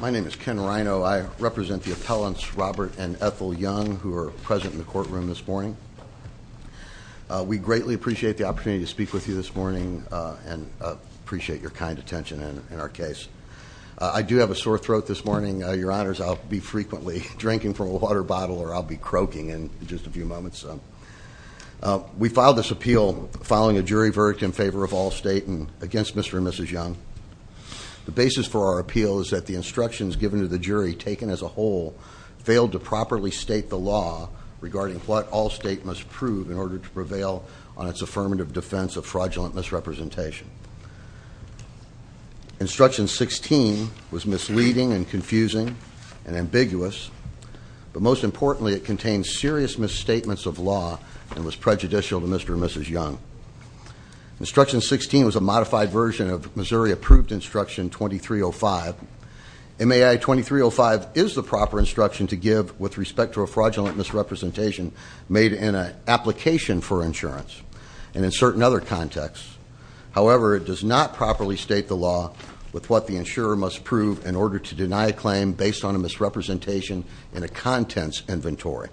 My name is Ken Rhino. I represent the appellants Robert and Ethel Young who are present in the courtroom this morning. We greatly appreciate the opportunity to speak with you this morning and appreciate your kind attention in our case. I do have a sore throat this morning, your honors. I'll be frequently drinking from a water bottle or I'll be croaking in just a few moments. We filed this appeal following a jury verdict in favor of Allstate and against Mr. and Mrs. Young. The basis for our appeal is that the instructions given to the jury, taken as a whole, failed to properly state the law regarding what Allstate must prove in order to prevail on its affirmative defense of fraudulent misrepresentation. Instruction 16 was misleading and confusing and ambiguous, but most importantly it contained serious misstatements of law and was prejudicial to Mr. and Mrs. Young. Instruction 16 was a modified version of Missouri Approved Instruction 2305. MAI 2305 is the proper instruction to give with respect to a fraudulent misrepresentation made in an application for insurance and in certain other contexts. However, it does not properly state the law with what the insurer must prove in order to deny a claim based on a misrepresentation in a contents inventory.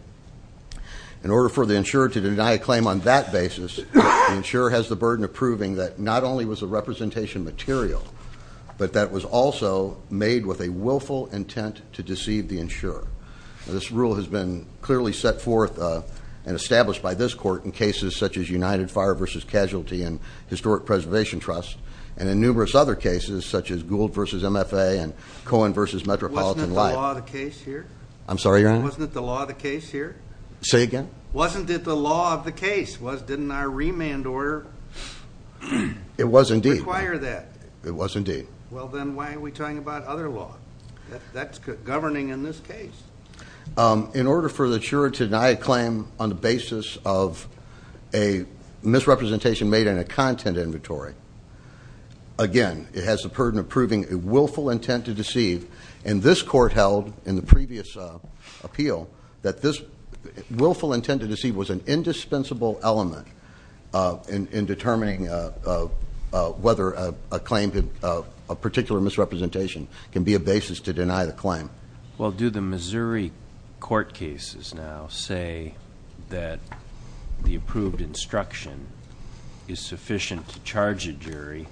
In order for the insurer to deny a claim on that basis, the insurer has the burden of proving that not only was the representation material, but that it was also made with a willful intent to deceive the insurer. This rule has been clearly set forth and established by this court in cases such as United Fire v. Casualty and Historic Preservation Trust and in numerous other cases such as Gould v. MFA and Cohen v. Metropolitan Light. Wasn't it the law of the case here? I'm sorry, your honor? Wasn't it the law of the case here? Say again? Wasn't it the law of the case? Didn't our remand order- It was indeed. Require that? It was indeed. Well, then why are we talking about other law? That's governing in this case. In order for the insurer to deny a claim on the basis of a misrepresentation made in a content inventory, again, it has the burden of proving a willful intent to deceive. And this court held in the previous appeal that this willful intent to deceive was an indispensable element in determining whether a particular misrepresentation can be a basis to deny the claim. Well, do the Missouri court cases now say that the approved instruction is sufficient to charge a jury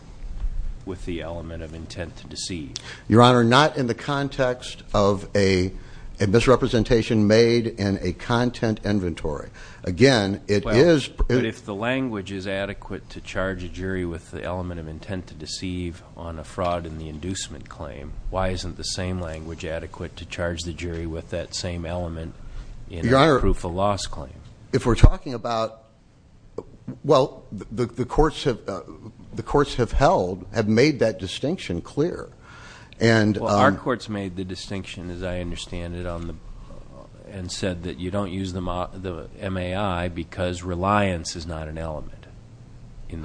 with the element of intent to deceive? Your honor, not in the context of a misrepresentation made in a content inventory. Again, it is- Why isn't the same language adequate to charge a jury with the element of intent to deceive on a fraud in the inducement claim? Why isn't the same language adequate to charge the jury with that same element in a proof of loss claim? Your honor, if we're talking about- Well, the courts have held, have made that distinction clear. And- In the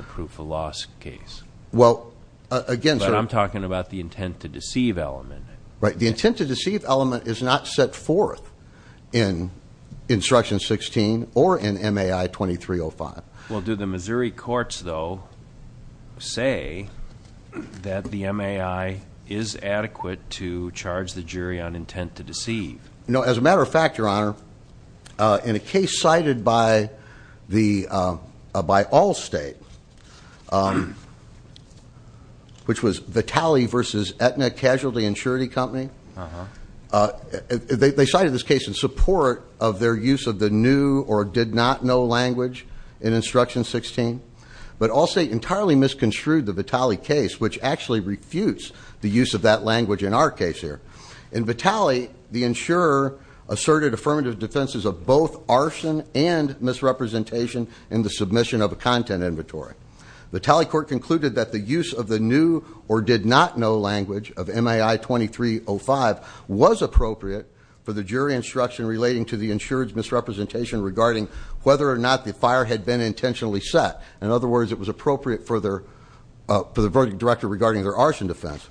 proof of loss case. Well, again- But I'm talking about the intent to deceive element. Right, the intent to deceive element is not set forth in instruction 16 or in MAI 2305. Well, do the Missouri courts, though, say that the MAI is adequate to charge the jury on intent to deceive? As a matter of fact, your honor, in a case cited by Allstate, which was Vitale versus Aetna Casualty Insurance Company. They cited this case in support of their use of the new or did not know language in instruction 16. But Allstate entirely misconstrued the Vitale case, which actually refutes the use of that language in our case here. In Vitale, the insurer asserted affirmative defenses of both arson and misrepresentation in the submission of a content inventory. Vitale court concluded that the use of the new or did not know language of MAI 2305 was appropriate for the jury instruction relating to the insured's misrepresentation regarding whether or not the fire had been intentionally set. In other words, it was appropriate for the verdict director regarding their arson defense.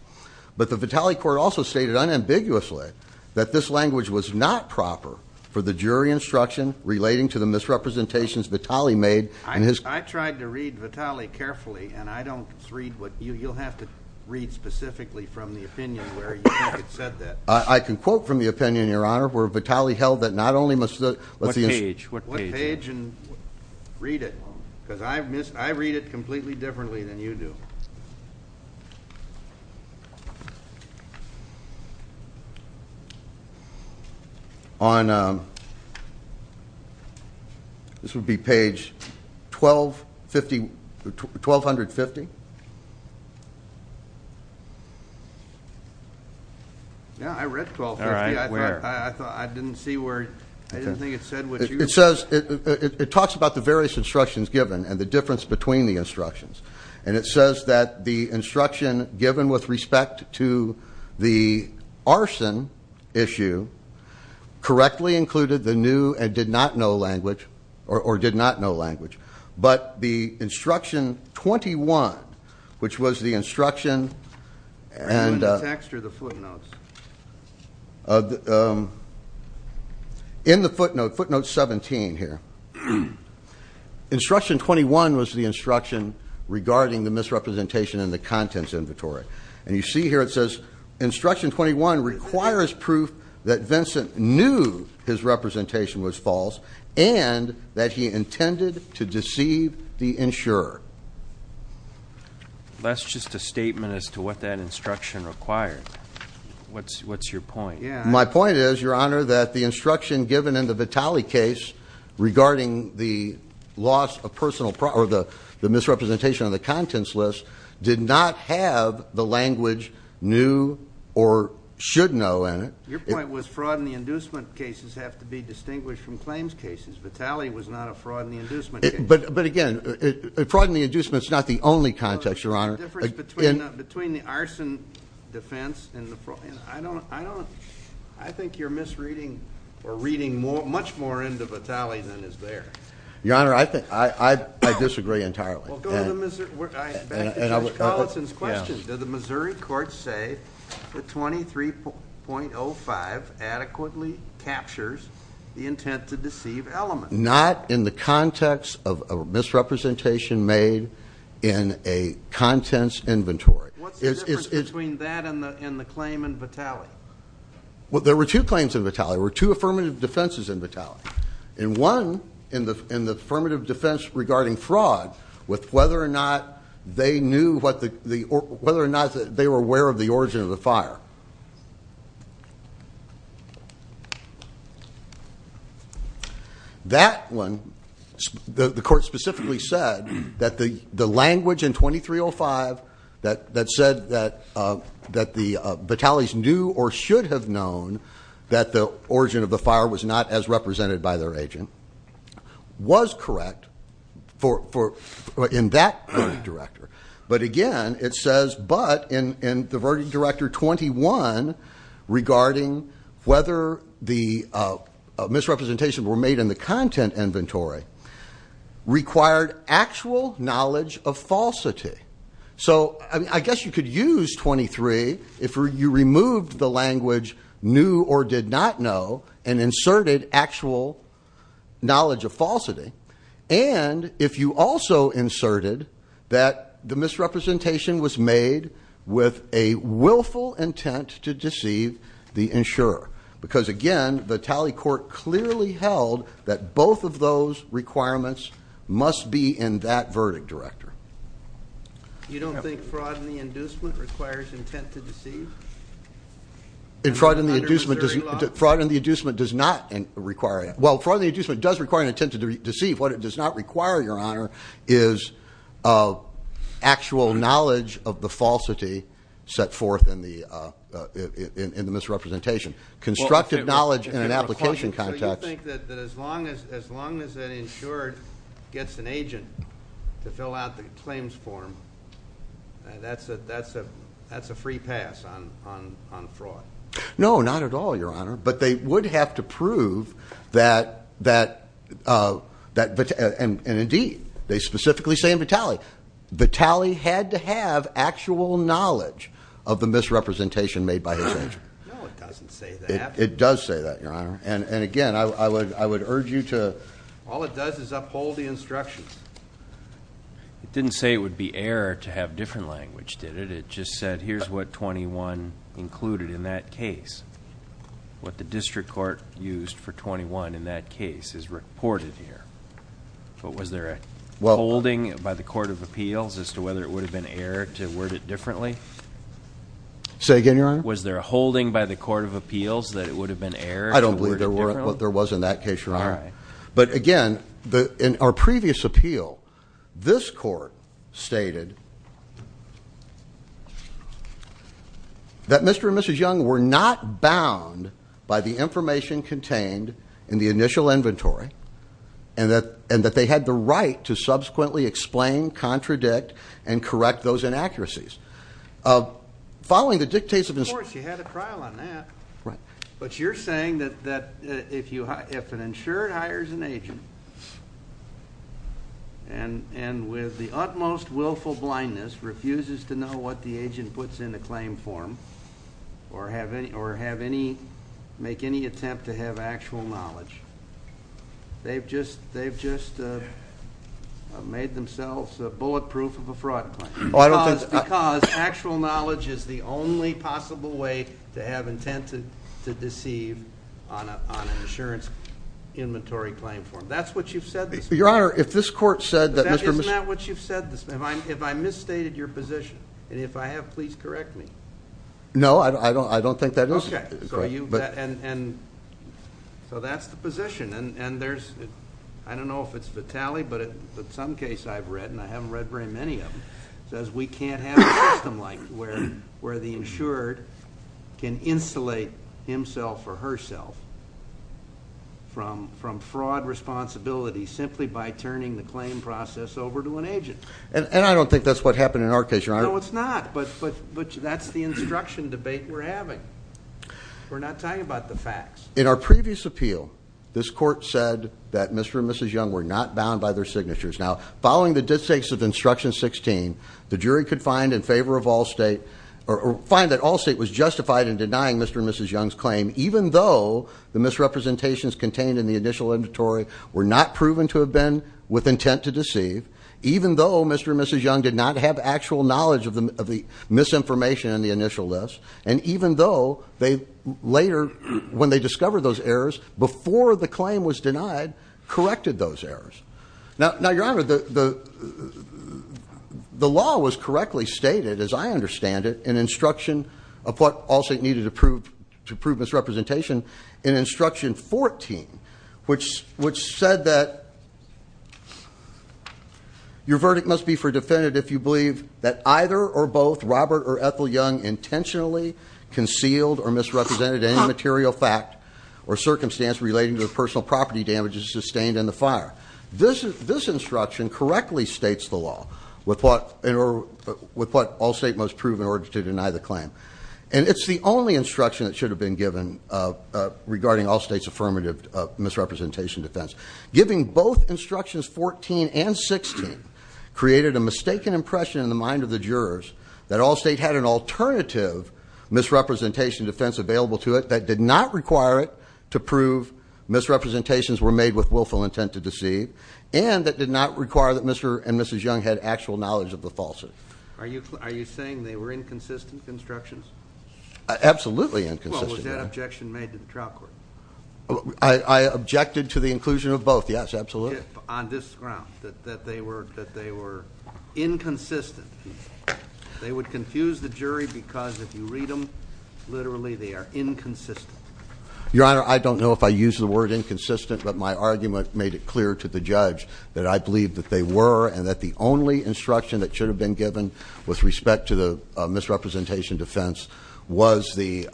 But the Vitale court also stated unambiguously that this language was not proper for the jury instruction relating to the misrepresentations Vitale made in his- I tried to read Vitale carefully, and you'll have to read specifically from the opinion where you think it said that. I can quote from the opinion, your honor, where Vitale held that not only must the- What page? What page? Read it, because I read it completely differently than you do. On, this would be page 1250, 1250. Yeah, I read 1250. All right, where? I didn't see where, I didn't think it said what you- It says, it talks about the various instructions given and the difference between the instructions. And it says that the instruction given with respect to the arson issue correctly included the new and did not know language, or did not know language. But the instruction 21, which was the instruction and- The text or the footnotes? In the footnote, footnote 17 here. Instruction 21 was the instruction regarding the misrepresentation in the contents inventory. And you see here it says, instruction 21 requires proof that Vincent knew his representation was false and that he intended to deceive the insurer. That's just a statement as to what that instruction required. What's your point? My point is, Your Honor, that the instruction given in the Vitale case regarding the loss of personal or the misrepresentation of the contents list did not have the language new or should know in it. Your point was fraud and the inducement cases have to be distinguished from claims cases. Vitale was not a fraud and the inducement case. But again, fraud and the inducement is not the only context, Your Honor. The difference between the arson defense and the fraud, I don't, I think you're misreading or reading much more into Vitale than is there. Your Honor, I disagree entirely. Well, go to the, back to Judge Collinson's question. Did the Missouri court say that 23.05 adequately captures the intent to deceive element? Not in the context of misrepresentation made in a contents inventory. What's the difference between that and the claim in Vitale? Well, there were two claims in Vitale. In one, in the affirmative defense regarding fraud with whether or not they knew what the, whether or not they were aware of the origin of the fire. That one, the court specifically said that the language in 23.05 that said that, that the Vitalis knew or should have known that the origin of the fire was not as represented by their agent, was correct for, in that verdict director. But again, it says, but in the verdict director 21, regarding whether the misrepresentation were made in the content inventory, required actual knowledge of falsity. So, I mean, I guess you could use 23 if you removed the language knew or did not know and inserted actual knowledge of falsity. And if you also inserted that the misrepresentation was made with a willful intent to deceive the insurer. Because again, the tally court clearly held that both of those requirements must be in that verdict director. You don't think fraud in the inducement requires intent to deceive? In fraud in the inducement, fraud in the inducement does not require, well, fraud in the inducement does require an intent to deceive. What it does not require, your honor, is actual knowledge of the falsity set forth in the misrepresentation. Constructive knowledge in an application context. So you think that as long as an insurer gets an agent to fill out the claims form, that's a free pass on fraud? No, not at all, your honor. But they would have to prove that, and indeed, they specifically say in the tally, the tally had to have actual knowledge of the misrepresentation made by his agent. No, it doesn't say that. It does say that, your honor. And again, I would urge you to... All it does is uphold the instructions. It didn't say it would be error to have different language, did it? It just said, here's what 21 included in that case. What the district court used for 21 in that case is reported here. But was there a holding by the court of appeals as to whether it would have been error to word it differently? Say again, your honor? Was there a holding by the court of appeals that it would have been error to word it differently? I don't believe there was in that case, your honor. All right. But again, in our previous appeal, this court stated that Mr. and Mrs. Young were not bound by the information contained in the initial inventory, and that they had the right to subsequently explain, contradict, and correct those inaccuracies. Following the dictation of Mr. Of course, you had a trial on that. Right. But you're saying that if an insured hires an agent, and with the utmost willful blindness, refuses to know what the agent puts in the claim form, or make any attempt to have actual knowledge, they've just made themselves bulletproof of a fraud claim. Because actual knowledge is the only possible way to have intent to deceive on an insurance inventory claim form. That's what you've said this morning. Your honor, if this court said that Mr. Isn't that what you've said this morning? If I misstated your position, and if I have, please correct me. No, I don't think that is. Okay. So that's the position. I don't know if it's Vitali, but in some case I've read, and I haven't read very many of them, says we can't have a system like where the insured can insulate himself or herself from fraud responsibility simply by turning the claim process over to an agent. And I don't think that's what happened in our case, your honor. No, it's not. But that's the instruction debate we're having. We're not talking about the facts. In our previous appeal, this court said that Mr. And Mrs. Young were not bound by their signatures. Now, following the distincts of instruction 16, the jury could find in favor of all state, or find that all state was justified in denying Mr. And Mrs. Young's claim, even though the misrepresentations contained in the initial inventory were not proven to have been with intent to deceive. Even though Mr. And Mrs. Young did not have actual knowledge of the misinformation in the initial list. And even though they later, when they discovered those errors, before the claim was denied, corrected those errors. Now, your honor, the law was correctly stated, as I understand it, in instruction of what all state needed to prove misrepresentation in instruction 14, which said that your verdict must be for defendant if you believe that either or both Robert or Ethel Young intentionally concealed or misrepresented any material fact or circumstance relating to personal property damages sustained in the fire. This instruction correctly states the law with what all state must prove in order to deny the claim. And it's the only instruction that should have been given regarding all state's affirmative misrepresentation defense. Giving both instructions 14 and 16 created a mistaken impression in the mind of the jurors that all state had an alternative misrepresentation defense available to it that did not require it to prove misrepresentations were made with willful intent to deceive. And that did not require that Mr. and Mrs. Young had actual knowledge of the falsity. Are you saying they were inconsistent instructions? Absolutely inconsistent. Well, was that objection made to the trial court? I objected to the inclusion of both, yes, absolutely. On this ground, that they were inconsistent. They would confuse the jury because if you read them, literally, they are inconsistent. Your honor, I don't know if I use the word inconsistent, but my argument made it clear to the judge that I believe that they were and that the only instruction that should have been given with respect to the misrepresentation defense was the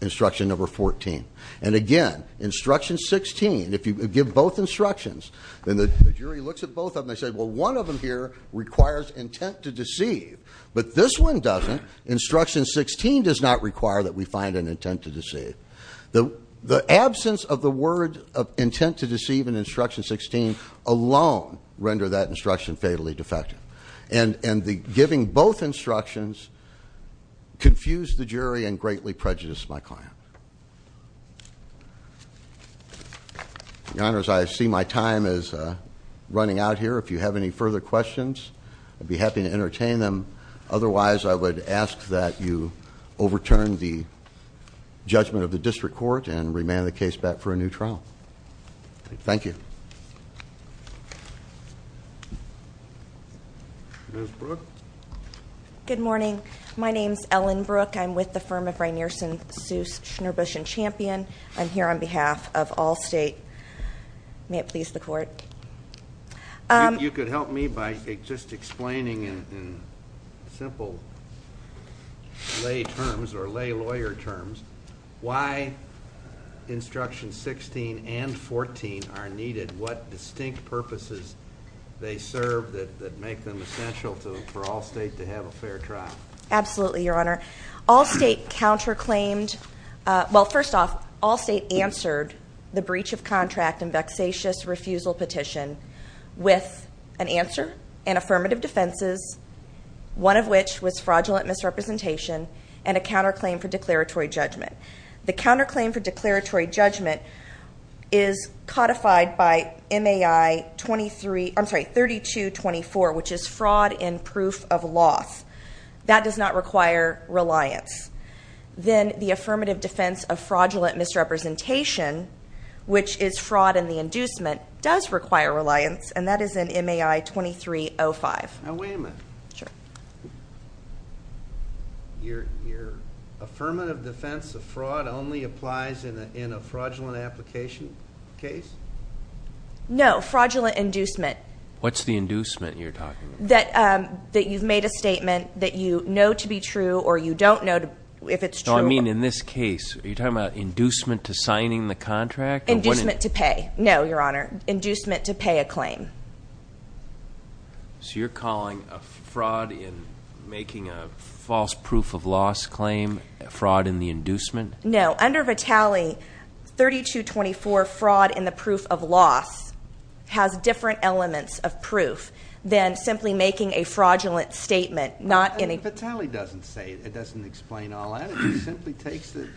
instruction number 14. And again, instruction 16, if you give both instructions and the jury looks at both of them, they say, well, one of them here requires intent to deceive. But this one doesn't. Instruction 16 does not require that we find an intent to deceive. The absence of the word intent to deceive in instruction 16 alone render that instruction fatally defective. And giving both instructions confused the jury and greatly prejudiced my client. Your honors, I see my time is running out here. If you have any further questions, I'd be happy to entertain them. Otherwise, I would ask that you overturn the judgment of the district court and remand the case back for a new trial. Thank you. Ms. Brooke? Good morning. My name's Ellen Brooke. I'm with the firm of Rainierson, Seuss, Schnurbush, and Champion. I'm here on behalf of Allstate. May it please the court. You could help me by just explaining in simple lay terms, or lay lawyer terms, why instructions 16 and 14 are needed, what distinct purposes they serve that make them essential for Allstate to have a fair trial. Absolutely, your honor. Allstate counterclaimed, well, first off, Allstate answered the breach of contract and vexatious refusal petition with an answer and affirmative defenses, one of which was fraudulent misrepresentation and a counterclaim for declaratory judgment. The counterclaim for declaratory judgment is codified by MAI 3224, which is fraud in proof of loss. That does not require reliance. Then the affirmative defense of fraudulent misrepresentation, which is fraud in the inducement, does require reliance, and that is in MAI 2305. Now, wait a minute. Sure. Your affirmative defense of fraud only applies in a fraudulent application case? No, fraudulent inducement. What's the inducement you're talking about? That you've made a statement that you know to be true or you don't know if it's true. No, I mean in this case, are you talking about inducement to signing the contract? Inducement to pay. No, your honor. Inducement to pay a claim. So you're calling fraud in making a false proof of loss claim fraud in the inducement? No. Under Vitale, 3224, fraud in the proof of loss, has different elements of proof than simply making a fraudulent statement. Vitale doesn't say it. It doesn't explain all that. It simply takes the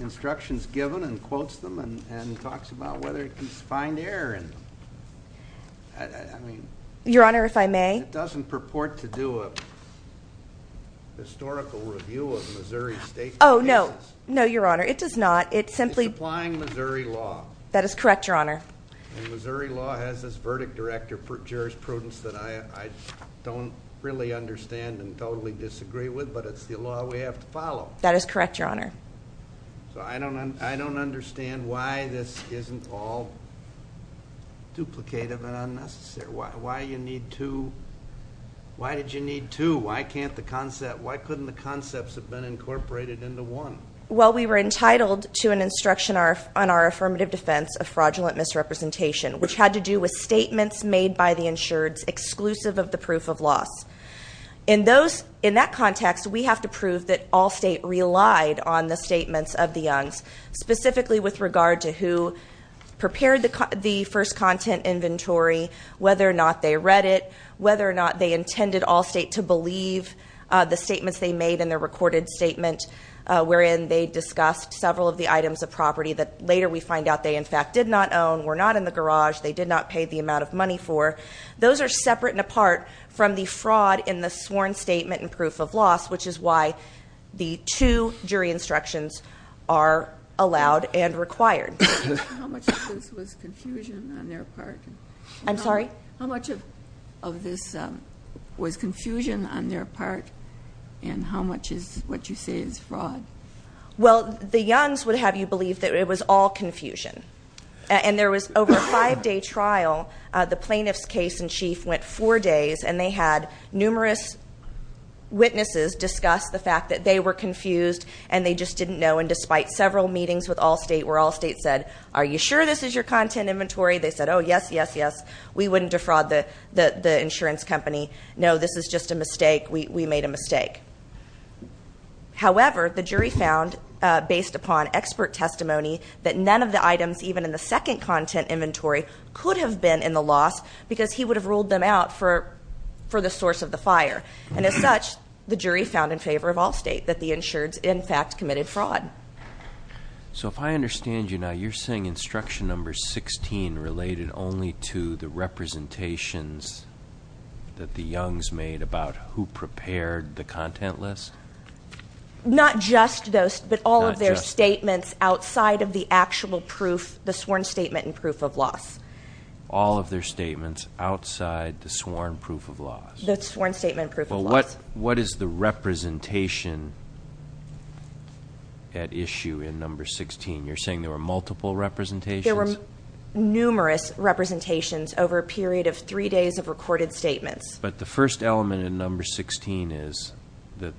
instructions given and quotes them and talks about whether it can find error. Your honor, if I may? It doesn't purport to do a historical review of Missouri State cases. Oh, no. No, your honor. It does not. It simply... It's applying Missouri law. That is correct, your honor. And Missouri law has this verdict director for jurisprudence that I don't really understand and totally disagree with, but it's the law we have to follow. That is correct, your honor. So I don't understand why this isn't all duplicative and unnecessary. Why you need two? Why did you need two? Why can't the concept... Well, we were entitled to an instruction on our affirmative defense of fraudulent misrepresentation, which had to do with statements made by the insureds exclusive of the proof of loss. In that context, we have to prove that all state relied on the statements of the youngs, specifically with regard to who prepared the first content inventory, whether or not they read it, whether or not they intended all state to believe the statements they made in their recorded statement, wherein they discussed several of the items of property that later we find out they, in fact, did not own, were not in the garage, they did not pay the amount of money for. Those are separate and apart from the fraud in the sworn statement and proof of loss, which is why the two jury instructions are allowed and required. How much of this was confusion on their part? I'm sorry? How much of this was confusion on their part? And how much is what you say is fraud? Well, the youngs would have you believe that it was all confusion. And there was over a five-day trial. The plaintiff's case in chief went four days, and they had numerous witnesses discuss the fact that they were confused and they just didn't know, and despite several meetings with all state where all state said, are you sure this is your content inventory? They said, oh, yes, yes, yes. We wouldn't defraud the insurance company. No, this is just a mistake. We made a mistake. However, the jury found, based upon expert testimony, that none of the items even in the second content inventory could have been in the loss, because he would have ruled them out for the source of the fire. And as such, the jury found in favor of all state that the insureds, in fact, committed fraud. So if I understand you now, you're saying instruction number 16 related only to the representations that the youngs made about who prepared the content list? Not just those, but all of their statements outside of the actual proof, the sworn statement and proof of loss. All of their statements outside the sworn proof of loss. The sworn statement and proof of loss. But what is the representation at issue in number 16? You're saying there were multiple representations? There were numerous representations over a period of three days of recorded statements. But the first element in number 16 is that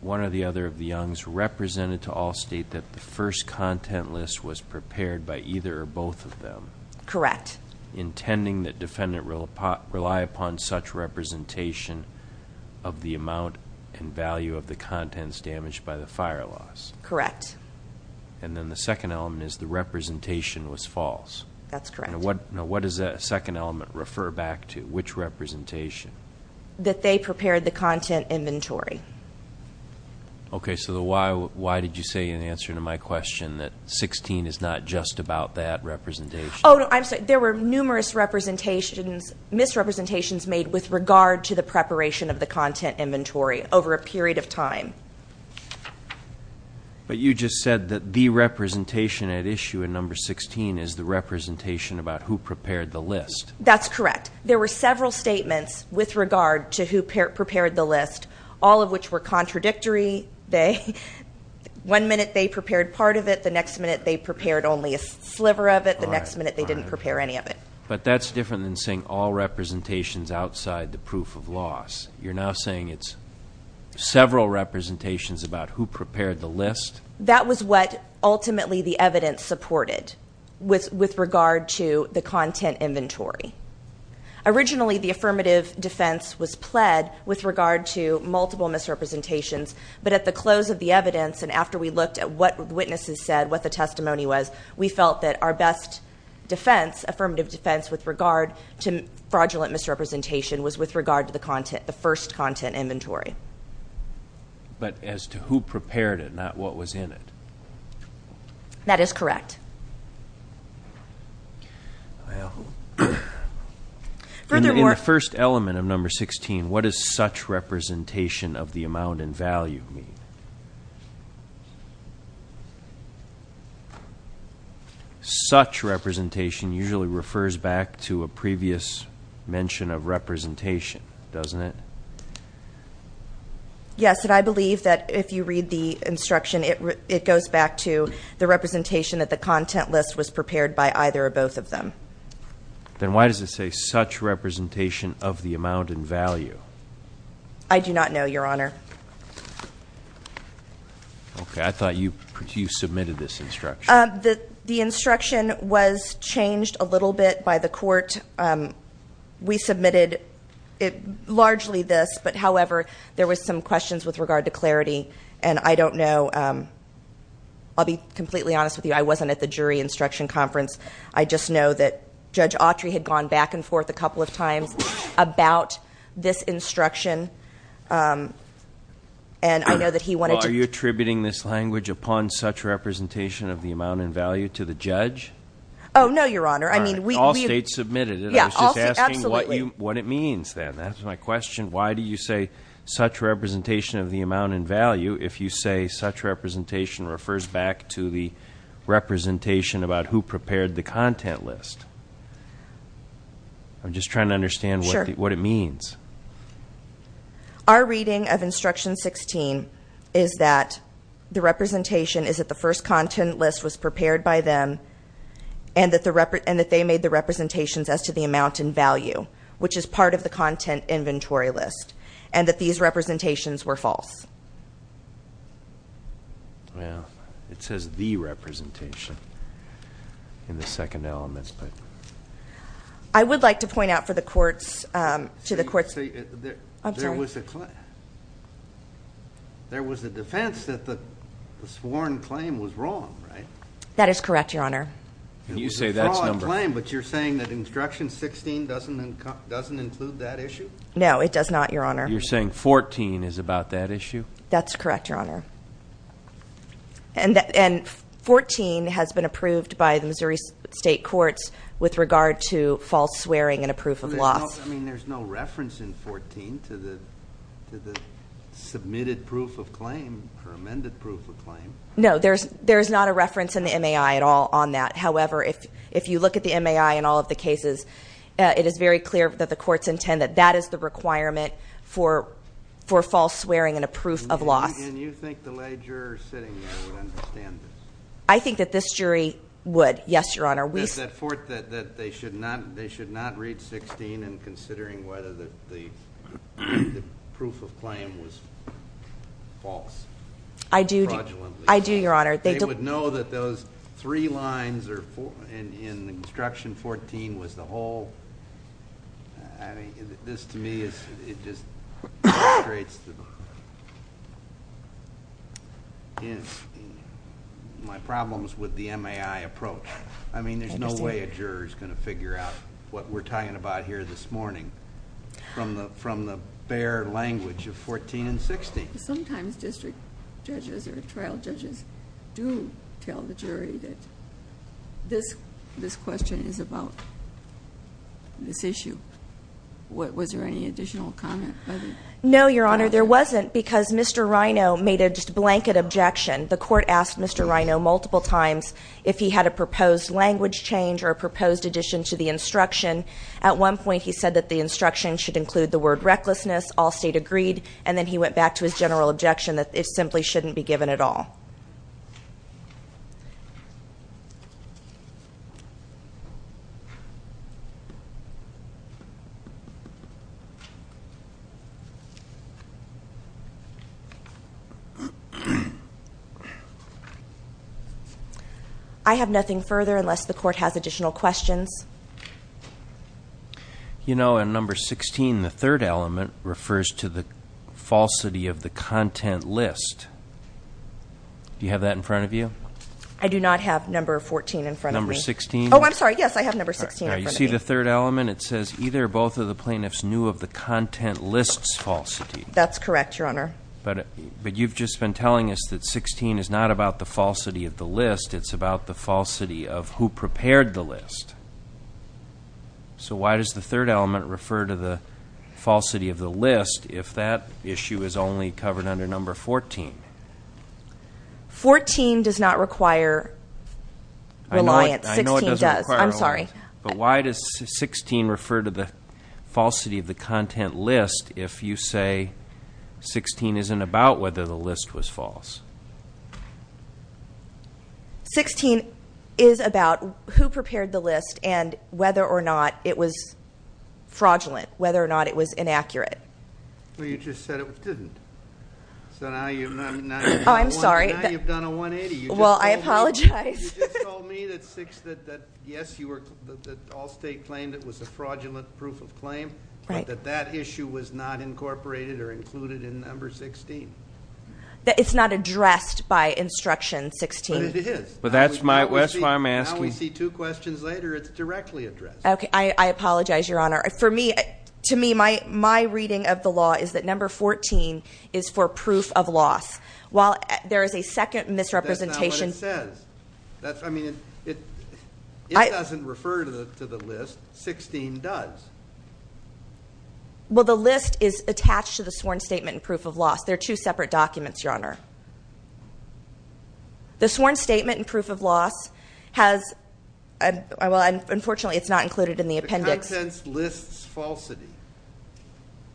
one or the other of the youngs represented to all state that the first content list was prepared by either or both of them. Correct. Intending that defendant rely upon such representation of the amount and value of the contents damaged by the fire loss. Correct. And then the second element is the representation was false. That's correct. Now what does that second element refer back to? Which representation? That they prepared the content inventory. Okay. So why did you say in answer to my question that 16 is not just about that representation? Oh, I'm sorry. There were numerous misrepresentations made with regard to the preparation of the content inventory over a period of time. But you just said that the representation at issue in number 16 is the representation about who prepared the list. That's correct. There were several statements with regard to who prepared the list, all of which were contradictory. One minute they prepared part of it. The next minute they prepared only a sliver of it. The next minute they didn't prepare any of it. But that's different than saying all representations outside the proof of loss. You're now saying it's several representations about who prepared the list? That was what ultimately the evidence supported with regard to the content inventory. Originally the affirmative defense was pled with regard to multiple misrepresentations, but at the close of the evidence and after we looked at what witnesses said, what the testimony was, we felt that our best defense, affirmative defense, with regard to fraudulent misrepresentation was with regard to the first content inventory. But as to who prepared it, not what was in it? That is correct. Well, in the first element of number 16, what does such representation of the amount in value mean? Such representation usually refers back to a previous mention of representation, doesn't it? Yes, and I believe that if you read the instruction, it goes back to the representation that the content list was prepared by either or both of them. Then why does it say such representation of the amount in value? I do not know, Your Honor. Okay, I thought you submitted this instruction. The instruction was changed a little bit by the court. We submitted largely this, but, however, there were some questions with regard to clarity, and I don't know. I'll be completely honest with you. I wasn't at the jury instruction conference. I just know that Judge Autry had gone back and forth a couple of times about this instruction, and I know that he wanted to- Well, are you attributing this language upon such representation of the amount in value to the judge? Oh, no, Your Honor. All right, all states submitted it. I was just asking what it means then. That's my question. Why do you say such representation of the amount in value if you say such representation refers back to the representation about who prepared the content list? I'm just trying to understand what it means. Our reading of Instruction 16 is that the representation is that the first content list was prepared by them and that they made the representations as to the amount in value, which is part of the content inventory list, and that these representations were false. Well, it says the representation in the second element. I would like to point out to the courts- I'm sorry. There was a defense that the sworn claim was wrong, right? That is correct, Your Honor. And you say that's number- There was a fraud claim, but you're saying that Instruction 16 doesn't include that issue? No, it does not, Your Honor. You're saying 14 is about that issue? That's correct, Your Honor. And 14 has been approved by the Missouri State Courts with regard to false swearing and a proof of loss. I mean, there's no reference in 14 to the submitted proof of claim or amended proof of claim. No, there's not a reference in the MAI at all on that. However, if you look at the MAI and all of the cases, it is very clear that the courts intend that that is the requirement for false swearing and a proof of loss. And you think the lay juror sitting there would understand this? I think that this jury would, yes, Your Honor. That they should not read 16 and considering whether the proof of claim was false fraudulently? I do, Your Honor. They would know that those three lines in Instruction 14 was the whole- I mean, this to me, it just illustrates my problems with the MAI approach. I mean, there's no way a juror is going to figure out what we're talking about here this morning from the bare language of 14 and 16. Sometimes district judges or trial judges do tell the jury that this question is about this issue. Was there any additional comment by the- No, Your Honor. There wasn't because Mr. Rino made a blanket objection. The court asked Mr. Rino multiple times if he had a proposed language change or a proposed addition to the instruction. At one point, he said that the instruction should include the word recklessness. All state agreed. And then he went back to his general objection that it simply shouldn't be given at all. I have nothing further unless the court has additional questions. You know, in Number 16, the third element refers to the falsity of the content list. Do you have that in front of you? I do not have Number 14 in front of me. Number 16? Oh, I'm sorry. Yes, I have Number 16 in front of me. You see the third element? It says either or both of the plaintiffs knew of the content list's falsity. That's correct, Your Honor. But you've just been telling us that 16 is not about the falsity of the list. It's about the falsity of who prepared the list. So why does the third element refer to the falsity of the list if that issue is only covered under Number 14? 14 does not require reliance. I know it doesn't require reliance. 16 does. I'm sorry. But why does 16 refer to the falsity of the content list if you say 16 isn't about whether the list was false? 16 is about who prepared the list and whether or not it was fraudulent, whether or not it was inaccurate. Well, you just said it didn't. So now you've done a 180. Oh, I'm sorry. Well, I apologize. You just told me that, yes, Allstate claimed it was a fraudulent proof of claim, but that that issue was not incorporated or included in Number 16. It's not addressed by Instruction 16. But it is. But that's why I'm asking. Now we see two questions later, it's directly addressed. Okay. I apologize, Your Honor. For me, to me, my reading of the law is that Number 14 is for proof of loss. While there is a second misrepresentation- That's not what it says. I mean, it doesn't refer to the list. 16 does. Well, the list is attached to the sworn statement in proof of loss. They're two separate documents, Your Honor. The sworn statement in proof of loss has, well, unfortunately, it's not included in the appendix. The contents list's falsity.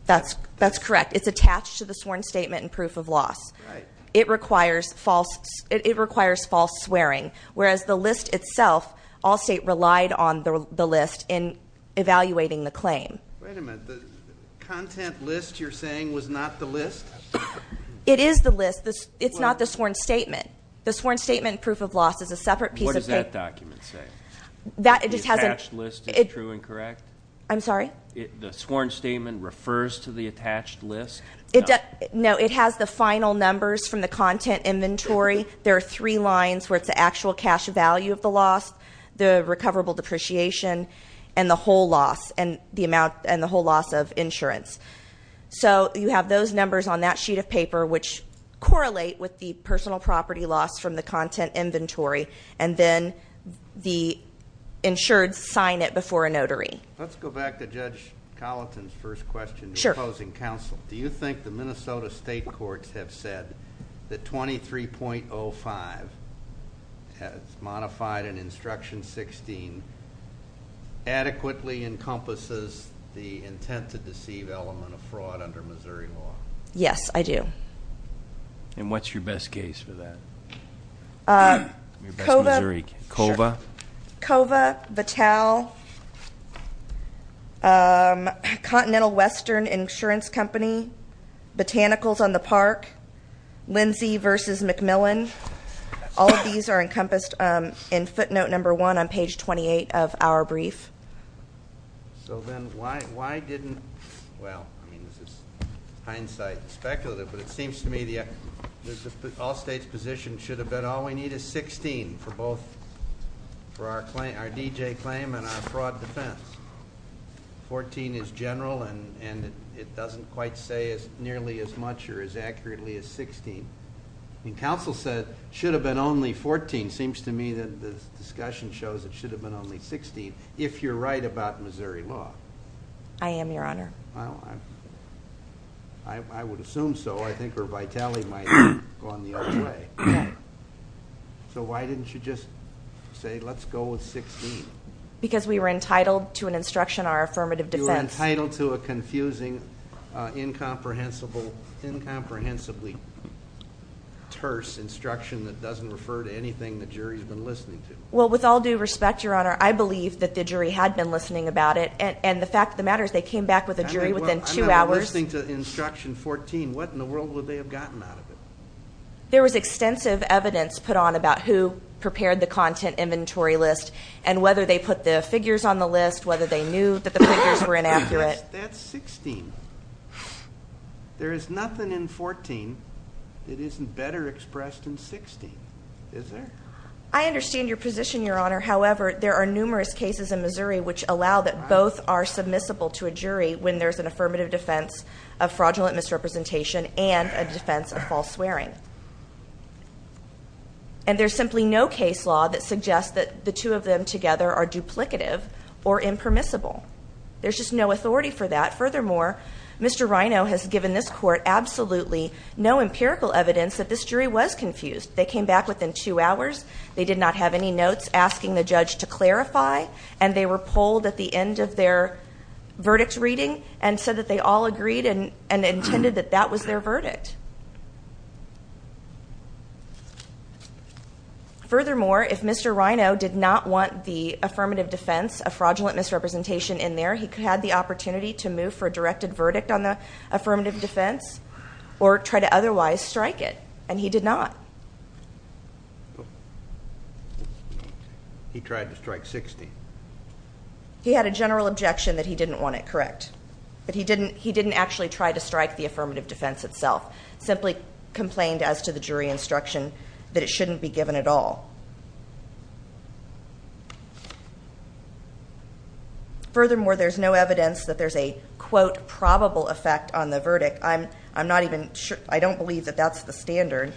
That's correct. It's attached to the sworn statement in proof of loss. Right. It requires false swearing. Whereas the list itself, Allstate relied on the list in evaluating the claim. Wait a minute. The content list you're saying was not the list? It is the list. It's not the sworn statement. The sworn statement in proof of loss is a separate piece of paper. What does that document say? The attached list is true and correct? I'm sorry? The sworn statement refers to the attached list? No, it has the final numbers from the content inventory. There are three lines where it's the actual cash value of the loss, the recoverable depreciation, and the whole loss. And the amount and the whole loss of insurance. So you have those numbers on that sheet of paper, which correlate with the personal property loss from the content inventory. And then the insured sign it before a notary. Let's go back to Judge Colleton's first question. Sure. Do you think the Minnesota state courts have said that 23.05, modified in instruction 16, adequately encompasses the intent to deceive element of fraud under Missouri law? Yes, I do. And what's your best case for that? Kova. Kova, Vitale, Continental Western Insurance Company, Botanicals on the Park, Lindsay versus McMillan. All of these are encompassed in footnote number one on page 28 of our brief. So then why didn't, well, I mean this is hindsight speculative, but it seems to me the all states position should have been all we need is 16 for both, for our D.J. claim and our fraud defense. 14 is general and it doesn't quite say nearly as much or as accurately as 16. And counsel said it should have been only 14. It seems to me that the discussion shows it should have been only 16 if you're right about Missouri law. I am, Your Honor. Well, I would assume so. I think where Vitale might have gone the other way. Okay. So why didn't you just say let's go with 16? Because we were entitled to an instruction in our affirmative defense. You were entitled to a confusing, incomprehensibly terse instruction that doesn't refer to anything the jury has been listening to. Well, with all due respect, Your Honor, I believe that the jury had been listening about it, and the fact of the matter is they came back with a jury within two hours. I'm not listening to instruction 14. What in the world would they have gotten out of it? There was extensive evidence put on about who prepared the content inventory list and whether they put the figures on the list, whether they knew that the figures were inaccurate. That's 16. There is nothing in 14 that isn't better expressed in 16. Is there? I understand your position, Your Honor. However, there are numerous cases in Missouri which allow that both are submissible to a jury when there's an affirmative defense of fraudulent misrepresentation and a defense of false swearing. And there's simply no case law that suggests that the two of them together are duplicative or impermissible. There's just no authority for that. Furthermore, Mr. Rino has given this court absolutely no empirical evidence that this jury was confused. They came back within two hours. They did not have any notes asking the judge to clarify, and they were polled at the end of their verdicts reading and said that they all agreed and intended that that was their verdict. Furthermore, if Mr. Rino did not want the affirmative defense of fraudulent misrepresentation in there, he had the opportunity to move for a directed verdict on the affirmative defense or try to otherwise strike it, and he did not. He tried to strike 60. He had a general objection that he didn't want it correct, that he didn't actually try to strike the affirmative defense itself, simply complained as to the jury instruction that it shouldn't be given at all. Furthermore, there's no evidence that there's a, quote, probable effect on the verdict. I'm not even sure. I don't believe that that's the standard.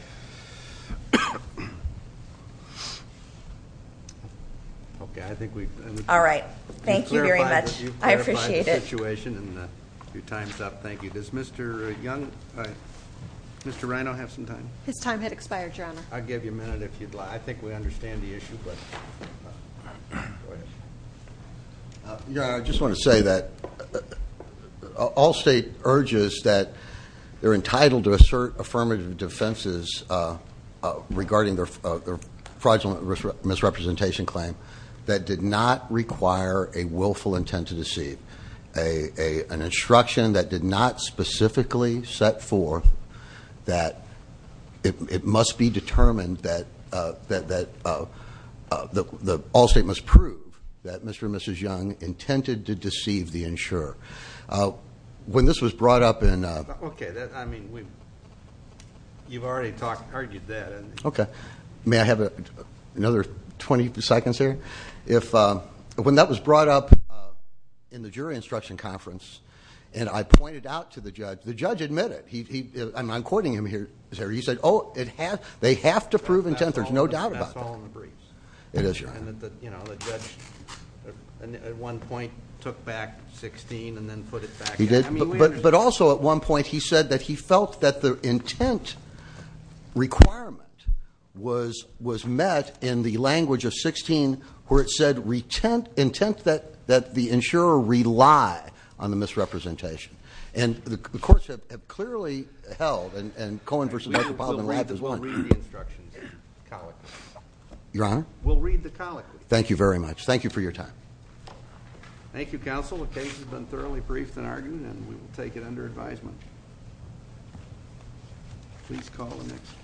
Okay. I think we've done. All right. Thank you very much. I appreciate it. We've clarified the situation, and your time's up. Thank you. Does Mr. Young, Mr. Rino have some time? His time had expired, Your Honor. I'll give you a minute if you'd like. I think we understand the issue, but go ahead. Your Honor, I just want to say that all state urges that they're entitled to assert affirmative defenses regarding their fraudulent misrepresentation claim that did not require a willful intent to deceive, an instruction that did not specifically set forth that it must be determined that all state must prove that Mr. and Mrs. Young intended to deceive the insurer. When this was brought up in- Okay. You've already argued that. Okay. May I have another 20 seconds here? When that was brought up in the jury instruction conference, and I pointed out to the judge, the judge admitted. I'm quoting him here. He said, oh, they have to prove intent. There's no doubt about that. That's all in the briefs. It is, Your Honor. The judge, at one point, took back 16 and then put it back in. He did. But also, at one point, he said that he felt that the intent requirement was met in the language of 16, where it said intent that the insurer rely on the misrepresentation. And the courts have clearly held, and Cohen v. Michael Bobbin and Rapp as well- We'll read the instructions, the colloquy. Your Honor? We'll read the colloquy. Thank you very much. Thank you for your time. Thank you, Counsel. The case has been thoroughly briefed and argued, and we will take it under advisement. Please call the next.